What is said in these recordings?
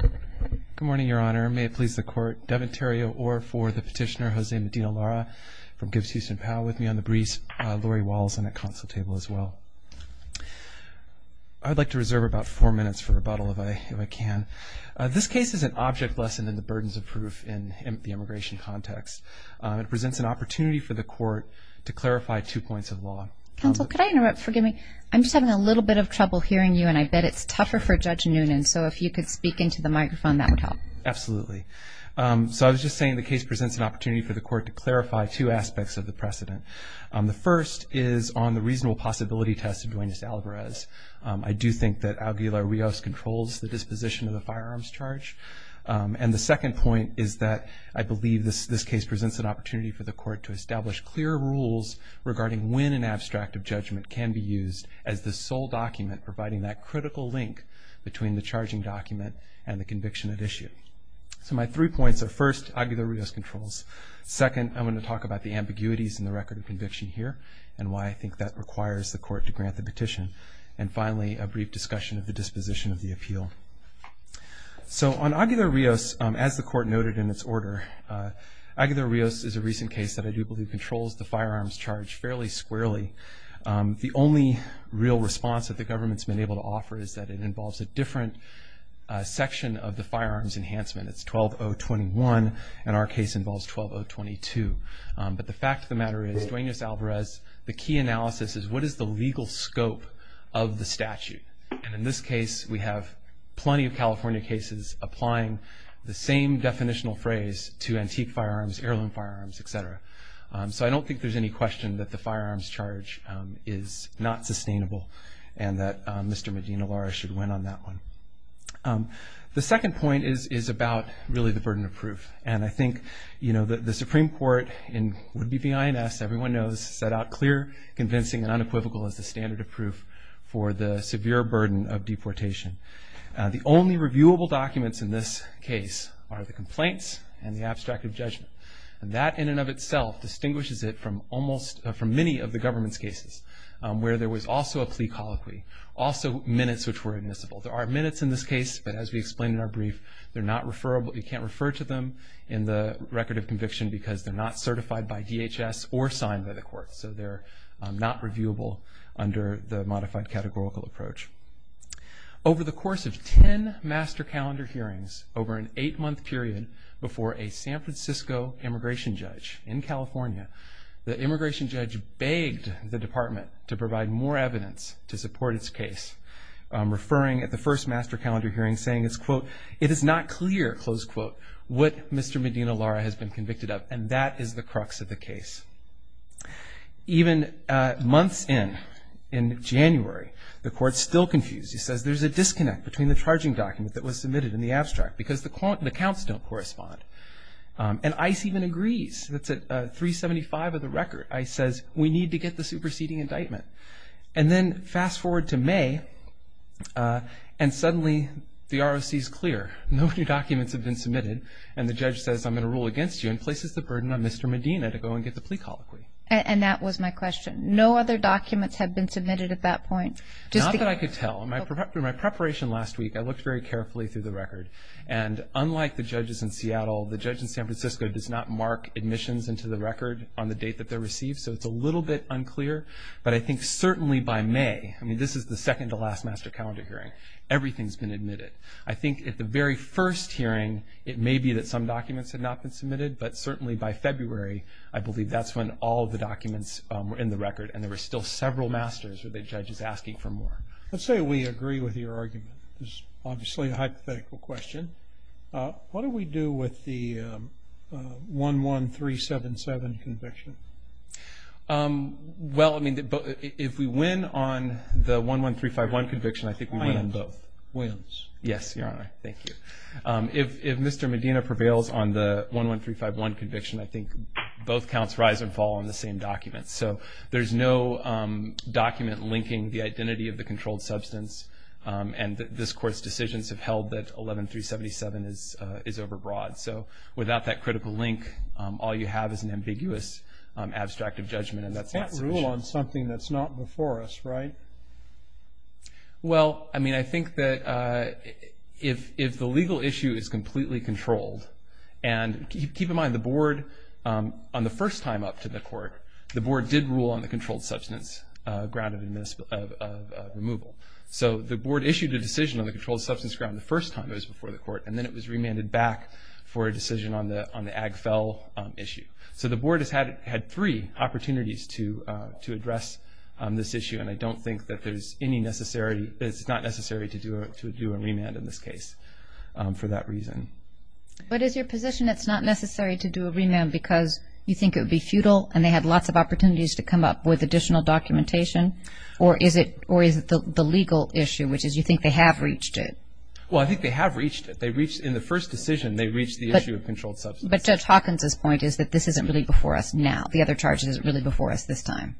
Good morning, Your Honor. May it please the Court, Devin Terrio, or for the petitioner, Jose Medina-Lara, from Gibbs-Houston POW, with me on the briefs, Lori Walls, and at counsel table as well. I'd like to reserve about four minutes for rebuttal, if I can. This case is an object lesson in the burdens of proof in the immigration context. It presents an opportunity for the Court to clarify two points of law. Counsel, could I interrupt? Forgive me. I'm just having a little bit of trouble hearing you, and I bet it's tougher for Judge Noonan, so if you could speak into the microphone, that would help. Absolutely. So I was just saying the case presents an opportunity for the Court to clarify two aspects of the precedent. The first is on the reasonable possibility test of Duenas-Alvarez. I do think that Alguilar-Rios controls the disposition of the firearms charge. And the second point is that I believe this case presents an opportunity for the Court to establish clear rules regarding when an abstract of judgment can be used as the sole document providing that critical link between the charging document and the conviction at issue. So my three points are, first, Aguilar-Rios controls. Second, I'm going to talk about the ambiguities in the record of conviction here and why I think that requires the Court to grant the petition. And finally, a brief discussion of the disposition of the appeal. So on Aguilar-Rios, as the Court noted in its order, Aguilar-Rios is a recent case that I do believe controls the firearms charge fairly squarely. The only real response that the government's been able to offer is that it involves a different section of the firearms enhancement. It's 12021, and our case involves 12022. But the fact of the matter is, Duenas-Alvarez, the key analysis is what is the legal scope of the statute. And in this case, we have plenty of California cases applying the same definitional phrase to antique firearms, heirloom firearms, et cetera. So I don't think there's any question that the firearms charge is not sustainable and that Mr. Medina-Lara should win on that one. The second point is about, really, the burden of proof. And I think, you know, the Supreme Court, in would-be BINS, everyone knows, set out clear, convincing, and unequivocal as the standard of proof for the severe burden of deportation. The only reviewable documents in this case are the complaints and the abstract of judgment. And that, in and of itself, distinguishes it from many of the government's cases where there was also a plea colloquy, also minutes which were admissible. There are minutes in this case, but as we explained in our brief, they're not referable. You can't refer to them in the record of conviction because they're not certified by DHS or signed by the court. So they're not reviewable under the modified categorical approach. Over the course of 10 master calendar hearings over an eight-month period before a San Francisco immigration judge in California, the immigration judge begged the department to provide more evidence to support its case, referring at the first master calendar hearing, saying it's, quote, it is not clear, close quote, what Mr. Medina-Lara has been convicted of. And that is the crux of the case. Even months in, in January, the court's still confused. He says there's a disconnect between the charging document that was submitted and the abstract because the counts don't correspond. And ICE even agrees. That's at 375 of the record. ICE says we need to get the superseding indictment. And then fast forward to May, and suddenly the ROC is clear. No new documents have been submitted. And the judge says I'm going to rule against you and places the burden on Mr. Medina to go and get the plea colloquy. And that was my question. No other documents have been submitted at that point? Not that I could tell. In my preparation last week, I looked very carefully through the record. And unlike the judges in Seattle, the judge in San Francisco does not mark admissions into the record on the date that they're received. So it's a little bit unclear. But I think certainly by May, I mean, this is the second to last master calendar hearing, everything's been admitted. I think at the very first hearing, it may be that some documents had not been submitted. But certainly by February, I believe that's when all of the documents were in the record and there were still several masters or the judges asking for more. Let's say we agree with your argument. This is obviously a hypothetical question. What do we do with the 11377 conviction? Well, I mean, if we win on the 11351 conviction, I think we win on both. Wins. Yes, Your Honor. Thank you. If Mr. Medina prevails on the 11351 conviction, I think both counts rise and fall on the same document. So there's no document linking the identity of the controlled substance and this Court's decisions have held that 11377 is overbroad. So without that critical link, all you have is an ambiguous abstract of judgment and that's not sufficient. You can't rule on something that's not before us, right? Well, I mean, I think that if the legal issue is completely controlled and keep in mind the Board, on the first time up to the Court, the Board did rule on the controlled substance ground of removal. So the Board issued a decision on the controlled substance ground the first time it was before the Court and then it was remanded back for a decision on the Ag Fell issue. So the Board has had three opportunities to address this issue and I don't think that there's any necessity, it's not necessary to do a remand in this case for that reason. But is your position it's not necessary to do a remand because you think it would be futile and they had lots of opportunities to come up with additional documentation or is it the legal issue, which is you think they have reached it? Well, I think they have reached it. In the first decision they reached the issue of controlled substance. But Judge Hawkins' point is that this isn't really before us now. The other charge isn't really before us this time.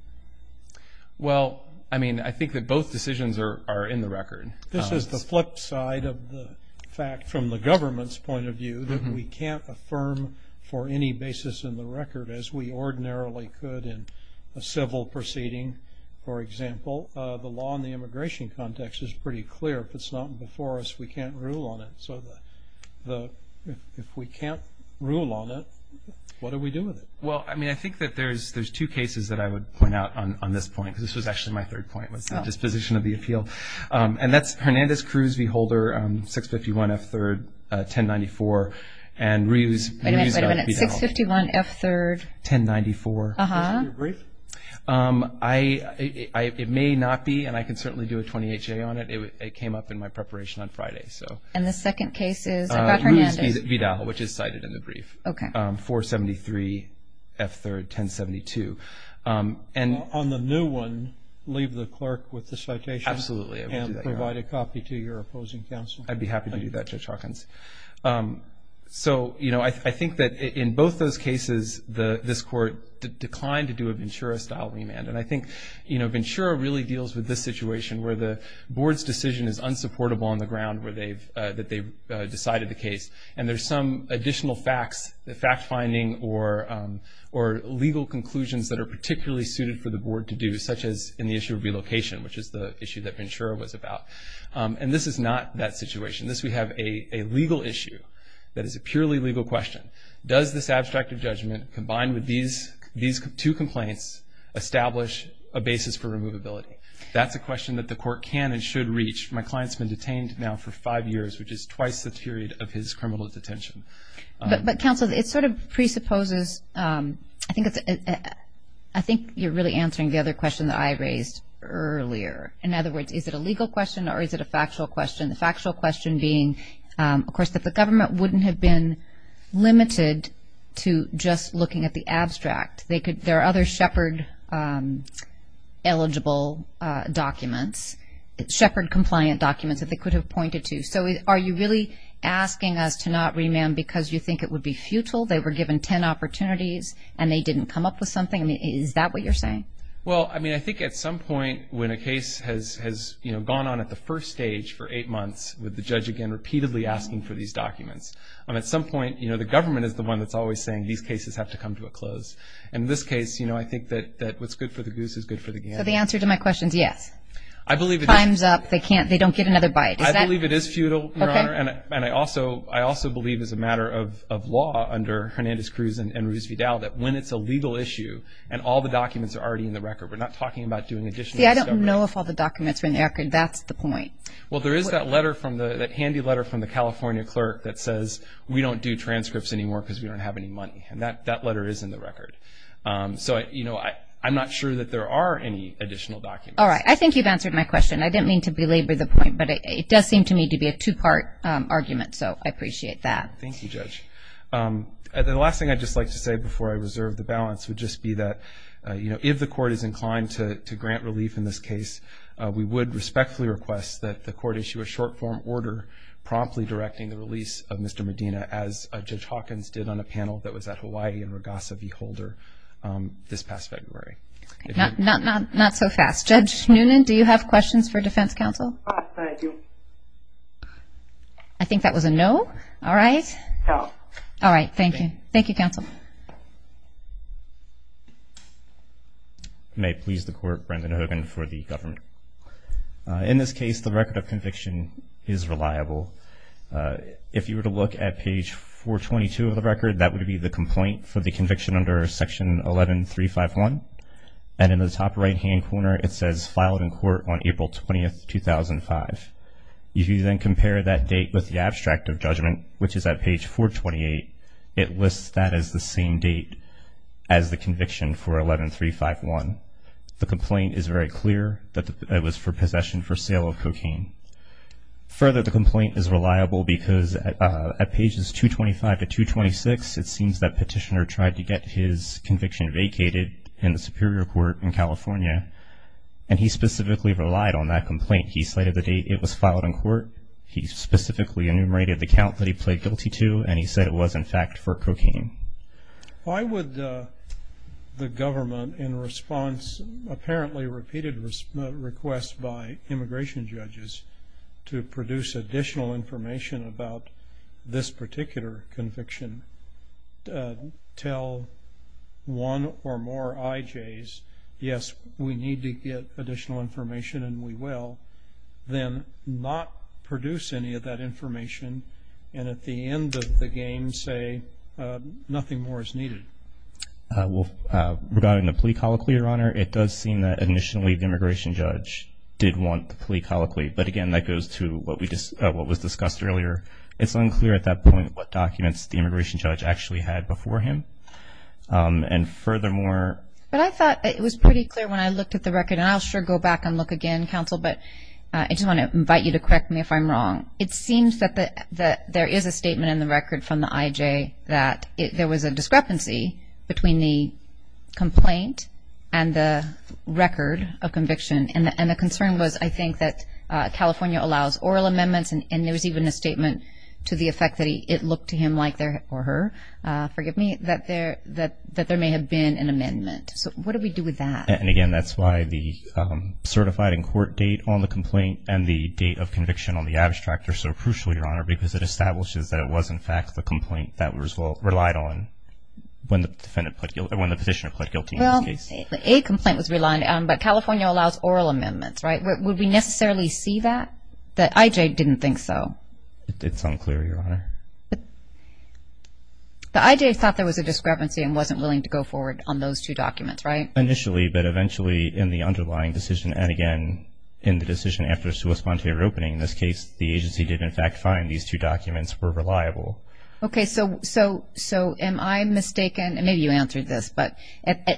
Well, I mean, I think that both decisions are in the record. This is the flip side of the fact from the government's point of view that we can't affirm for any basis in the record as we ordinarily could in a civil proceeding. For example, the law in the immigration context is pretty clear. If it's not before us we can't rule on it. So if we can't rule on it, what do we do with it? Well, I mean, I think that there's two cases that I would point out on this point because this was actually my third point was the disposition of the appeal. And that's Hernandez-Cruz v. Holder, 651 F. 3rd, 1094. Wait a minute, 651 F. 3rd, 1094. It may not be, and I can certainly do a 28-J on it. It came up in my preparation on Friday. And the second case is about Hernandez. It's Vidal, which is cited in the brief, 473 F. 3rd, 1072. On the new one, leave the clerk with the citation and provide a copy to your opposing counsel. I'd be happy to do that, Judge Hawkins. So, you know, I think that in both those cases this court declined to do a Ventura-style remand. And I think, you know, Ventura really deals with this situation where the board's decision is unsupportable on the ground that they've decided the case. And there's some additional facts, fact-finding or legal conclusions that are particularly suited for the board to do, such as in the issue of relocation, which is the issue that Ventura was about. And this is not that situation. This we have a legal issue that is a purely legal question. Does this abstract of judgment, combined with these two complaints, establish a basis for removability? That's a question that the court can and should reach. My client's been detained now for five years, which is twice the period of his criminal detention. But, counsel, it sort of presupposes, I think you're really answering the other question that I raised earlier. In other words, is it a legal question or is it a factual question? The factual question being, of course, that the government wouldn't have been limited to just looking at the abstract. There are other Shepard-eligible documents, Shepard-compliant documents that they could have pointed to. So are you really asking us to not remand because you think it would be futile? They were given ten opportunities and they didn't come up with something? Is that what you're saying? Well, I mean, I think at some point when a case has gone on at the first stage for eight months, with the judge again repeatedly asking for these documents, at some point the government is the one that's always saying, these cases have to come to a close. And in this case, you know, I think that what's good for the goose is good for the game. So the answer to my question is yes. I believe it is. Time's up. They can't, they don't get another bite. I believe it is futile, Your Honor. Okay. And I also believe as a matter of law under Hernandez-Cruz and Ruiz-Vidal that when it's a legal issue and all the documents are already in the record, we're not talking about doing additional discovery. See, I don't know if all the documents are in the record. That's the point. Well, there is that letter from the, that handy letter from the California clerk that says, we don't do transcripts anymore because we don't have any money. And that letter is in the record. So, you know, I'm not sure that there are any additional documents. All right. I think you've answered my question. I didn't mean to belabor the point, but it does seem to me to be a two-part argument, so I appreciate that. Thank you, Judge. The last thing I'd just like to say before I reserve the balance would just be that, you know, if the court is inclined to grant relief in this case, we would respectfully request that the court issue a short-form order promptly directing the release of Mr. Medina as Judge Hawkins did on a panel that was at Hawaii in Regassa v. Holder this past February. Not so fast. Judge Noonan, do you have questions for Defense Counsel? I do. I think that was a no. All right. No. Thank you. Thank you, Counsel. Thank you. May it please the Court, Brendan Hogan for the government. In this case, the record of conviction is reliable. If you were to look at page 422 of the record, that would be the complaint for the conviction under Section 11351. And in the top right-hand corner, it says filed in court on April 20, 2005. If you then compare that date with the abstract of judgment, which is at page 428, it lists that as the same date as the conviction for 11351. The complaint is very clear that it was for possession for sale of cocaine. Further, the complaint is reliable because at pages 225 to 226, it seems that Petitioner tried to get his conviction vacated in the Superior Court in California, and he specifically relied on that complaint. He cited the date it was filed in court. He specifically enumerated the count that he pled guilty to, and he said it was, in fact, for cocaine. Why would the government, in response to apparently repeated requests by immigration judges to produce additional information about this particular conviction, tell one or more IJs, yes, we need to get additional information and we will, then not produce any of that information and at the end of the game say nothing more is needed? Well, regarding the plea colloquy, Your Honor, it does seem that initially the immigration judge did want the plea colloquy. But, again, that goes to what was discussed earlier. It's unclear at that point what documents the immigration judge actually had before him. And furthermore – But I thought it was pretty clear when I looked at the record, and I'll sure go back and look again, Counsel, but I just want to invite you to correct me if I'm wrong. It seems that there is a statement in the record from the IJ that there was a discrepancy between the complaint and the record of conviction. And the concern was, I think, that California allows oral amendments, and there was even a statement to the effect that it looked to him like, or her, forgive me, that there may have been an amendment. So what do we do with that? And, again, that's why the certified in court date on the complaint and the date of conviction on the abstract are so crucial, Your Honor, because it establishes that it was, in fact, the complaint that was relied on when the positioner pled guilty in this case. Well, a complaint was relied on, but California allows oral amendments, right? Would we necessarily see that? The IJ didn't think so. It's unclear, Your Honor. The IJ thought there was a discrepancy and wasn't willing to go forward on those two documents, right? Initially, but eventually in the underlying decision, and, again, in the decision after a sui sponte reopening, in this case, the agency did, in fact, find these two documents were reliable. Okay. So am I mistaken, and maybe you answered this, but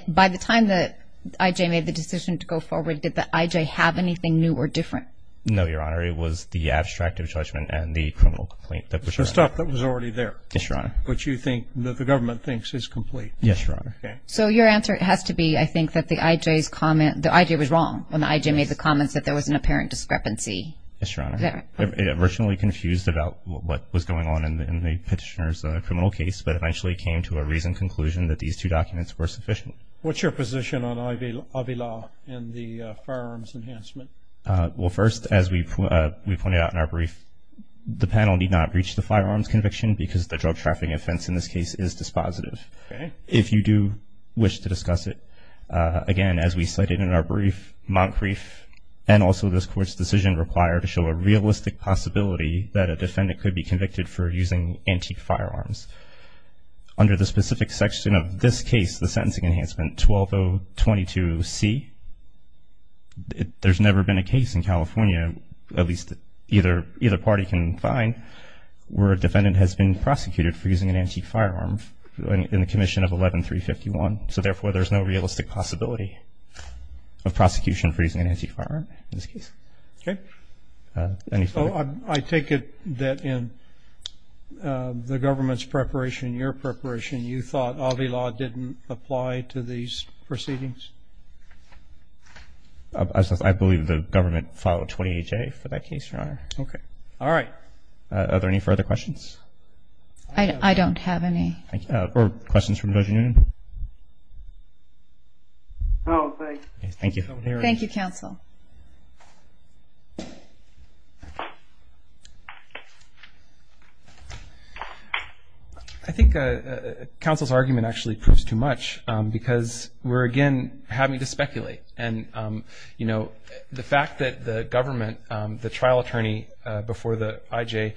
by the time the IJ made the decision to go forward, did the IJ have anything new or different? No, Your Honor. It was the abstract of judgment and the criminal complaint. The stuff that was already there. Yes, Your Honor. Which you think the government thinks is complete. Yes, Your Honor. Okay. So your answer has to be, I think, that the IJ's comment, the IJ was wrong when the IJ made the comments that there was an apparent discrepancy. Yes, Your Honor. It originally confused about what was going on in the petitioner's criminal case, but eventually came to a reasoned conclusion that these two documents were sufficient. What's your position on IVLA and the firearms enhancement? Well, first, as we pointed out in our brief, the panel need not reach the firearms conviction because the drug trafficking offense, in this case, is dispositive. If you do wish to discuss it, again, as we cited in our brief, Montcrief and also this Court's decision require to show a realistic possibility that a defendant could be convicted for using antique firearms. Under the specific section of this case, the Sentencing Enhancement 12022C, there's never been a case in California, at least either party can find, where a defendant has been prosecuted for using an antique firearm in the commission of 11351. So, therefore, there's no realistic possibility of prosecution for using an antique firearm in this case. Okay. I take it that in the government's preparation, your preparation, you thought IVLA didn't apply to these proceedings? I believe the government followed 28-J for that case, Your Honor. Okay. All right. Are there any further questions? I don't have any. Or questions from Judge Noonan? No, thanks. Thank you. Thank you, Counsel. I think Counsel's argument actually proves too much because we're, again, having to speculate. And, you know, the fact that the government, the trial attorney before the IJ,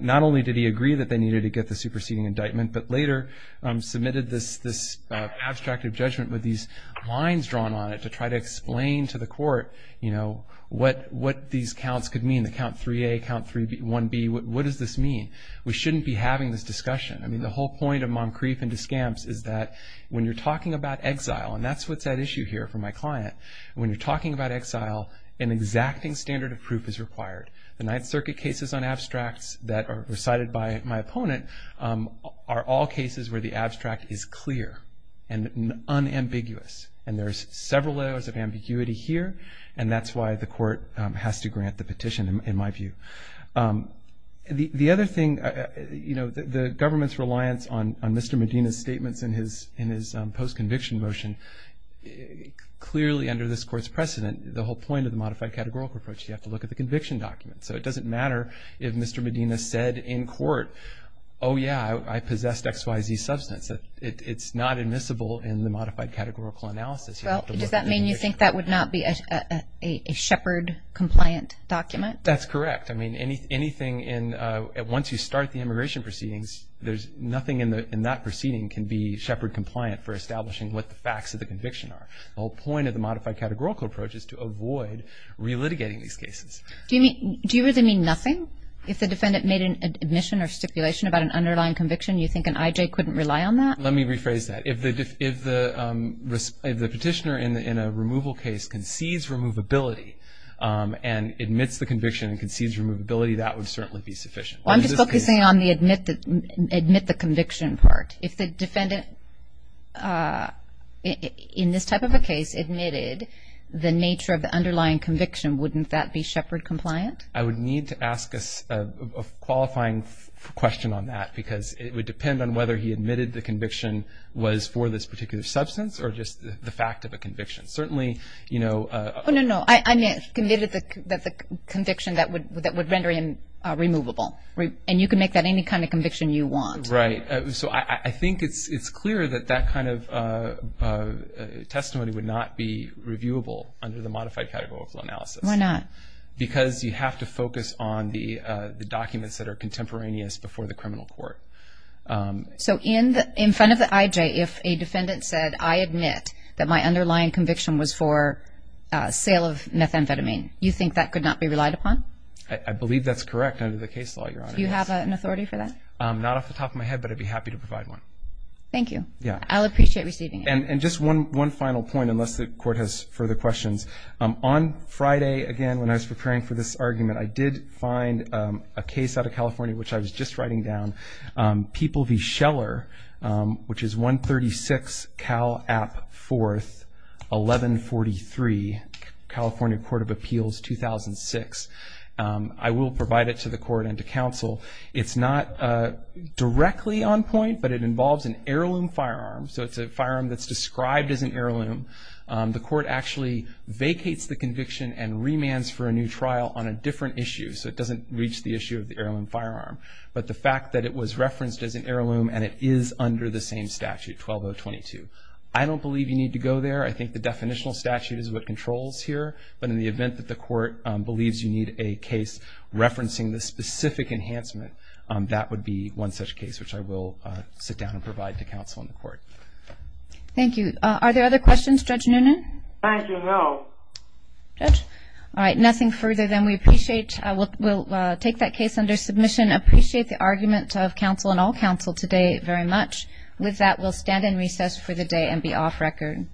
not only did he agree that they needed to get the superseding indictment, but later submitted this abstract of judgment with these lines drawn on it to try to explain to the Court what these counts could mean, the count 3A, count 1B, what does this mean? We shouldn't be having this discussion. I mean, the whole point of Moncrief and Descamps is that when you're talking about exile, and that's what's at issue here for my client, when you're talking about exile, an exacting standard of proof is required. The Ninth Circuit cases on abstracts that are recited by my opponent are all cases where the abstract is clear and unambiguous. And there's several layers of ambiguity here, and that's why the Court has to grant the petition, in my view. The other thing, you know, the government's reliance on Mr. Medina's statements in his post-conviction motion, clearly under this Court's precedent, the whole point of the modified categorical approach, you have to look at the conviction document. So it doesn't matter if Mr. Medina said in court, oh, yeah, I possessed XYZ substance. It's not admissible in the modified categorical analysis. Well, does that mean you think that would not be a Shepard-compliant document? That's correct. I mean, anything in, once you start the immigration proceedings, nothing in that proceeding can be Shepard-compliant for establishing what the facts of the conviction are. The whole point of the modified categorical approach is to avoid relitigating these cases. Do you really mean nothing? If the defendant made an admission or stipulation about an underlying conviction, you think an IJ couldn't rely on that? Let me rephrase that. If the petitioner in a removal case concedes removability and admits the conviction and concedes removability, that would certainly be sufficient. Well, I'm just focusing on the admit the conviction part. If the defendant, in this type of a case, admitted the nature of the underlying conviction, wouldn't that be Shepard-compliant? I would need to ask a qualifying question on that because it would depend on whether he admitted the conviction was for this particular substance or just the fact of a conviction. Certainly, you know. Oh, no, no. I meant that the conviction that would render him removable. And you can make that any kind of conviction you want. Right. So I think it's clear that that kind of testimony would not be reviewable under the modified categorical analysis. Why not? Because you have to focus on the documents that are contemporaneous before the criminal court. So in front of the IJ, if a defendant said, I admit that my underlying conviction was for sale of methamphetamine, you think that could not be relied upon? I believe that's correct under the case law, Your Honor. Do you have an authority for that? Not off the top of my head, but I'd be happy to provide one. Thank you. Yeah. I'll appreciate receiving it. And just one final point, unless the court has further questions. On Friday, again, when I was preparing for this argument, I did find a case out of California which I was just writing down, People v. Scheller, which is 136 Cal App 4th, 1143, California Court of Appeals, 2006. I will provide it to the court and to counsel. It's not directly on point, but it involves an heirloom firearm. So it's a firearm that's described as an heirloom. The court actually vacates the conviction and remands for a new trial on a different issue, so it doesn't reach the issue of the heirloom firearm. But the fact that it was referenced as an heirloom and it is under the same statute, 12022. I don't believe you need to go there. I think the definitional statute is what controls here. But in the event that the court believes you need a case referencing this specific enhancement, that would be one such case, which I will sit down and provide to counsel in the court. Thank you. Are there other questions, Judge Noonan? Thank you, no. All right, nothing further, then. We'll take that case under submission. I appreciate the argument of counsel and all counsel today very much. With that, we'll stand in recess for the day and be off record.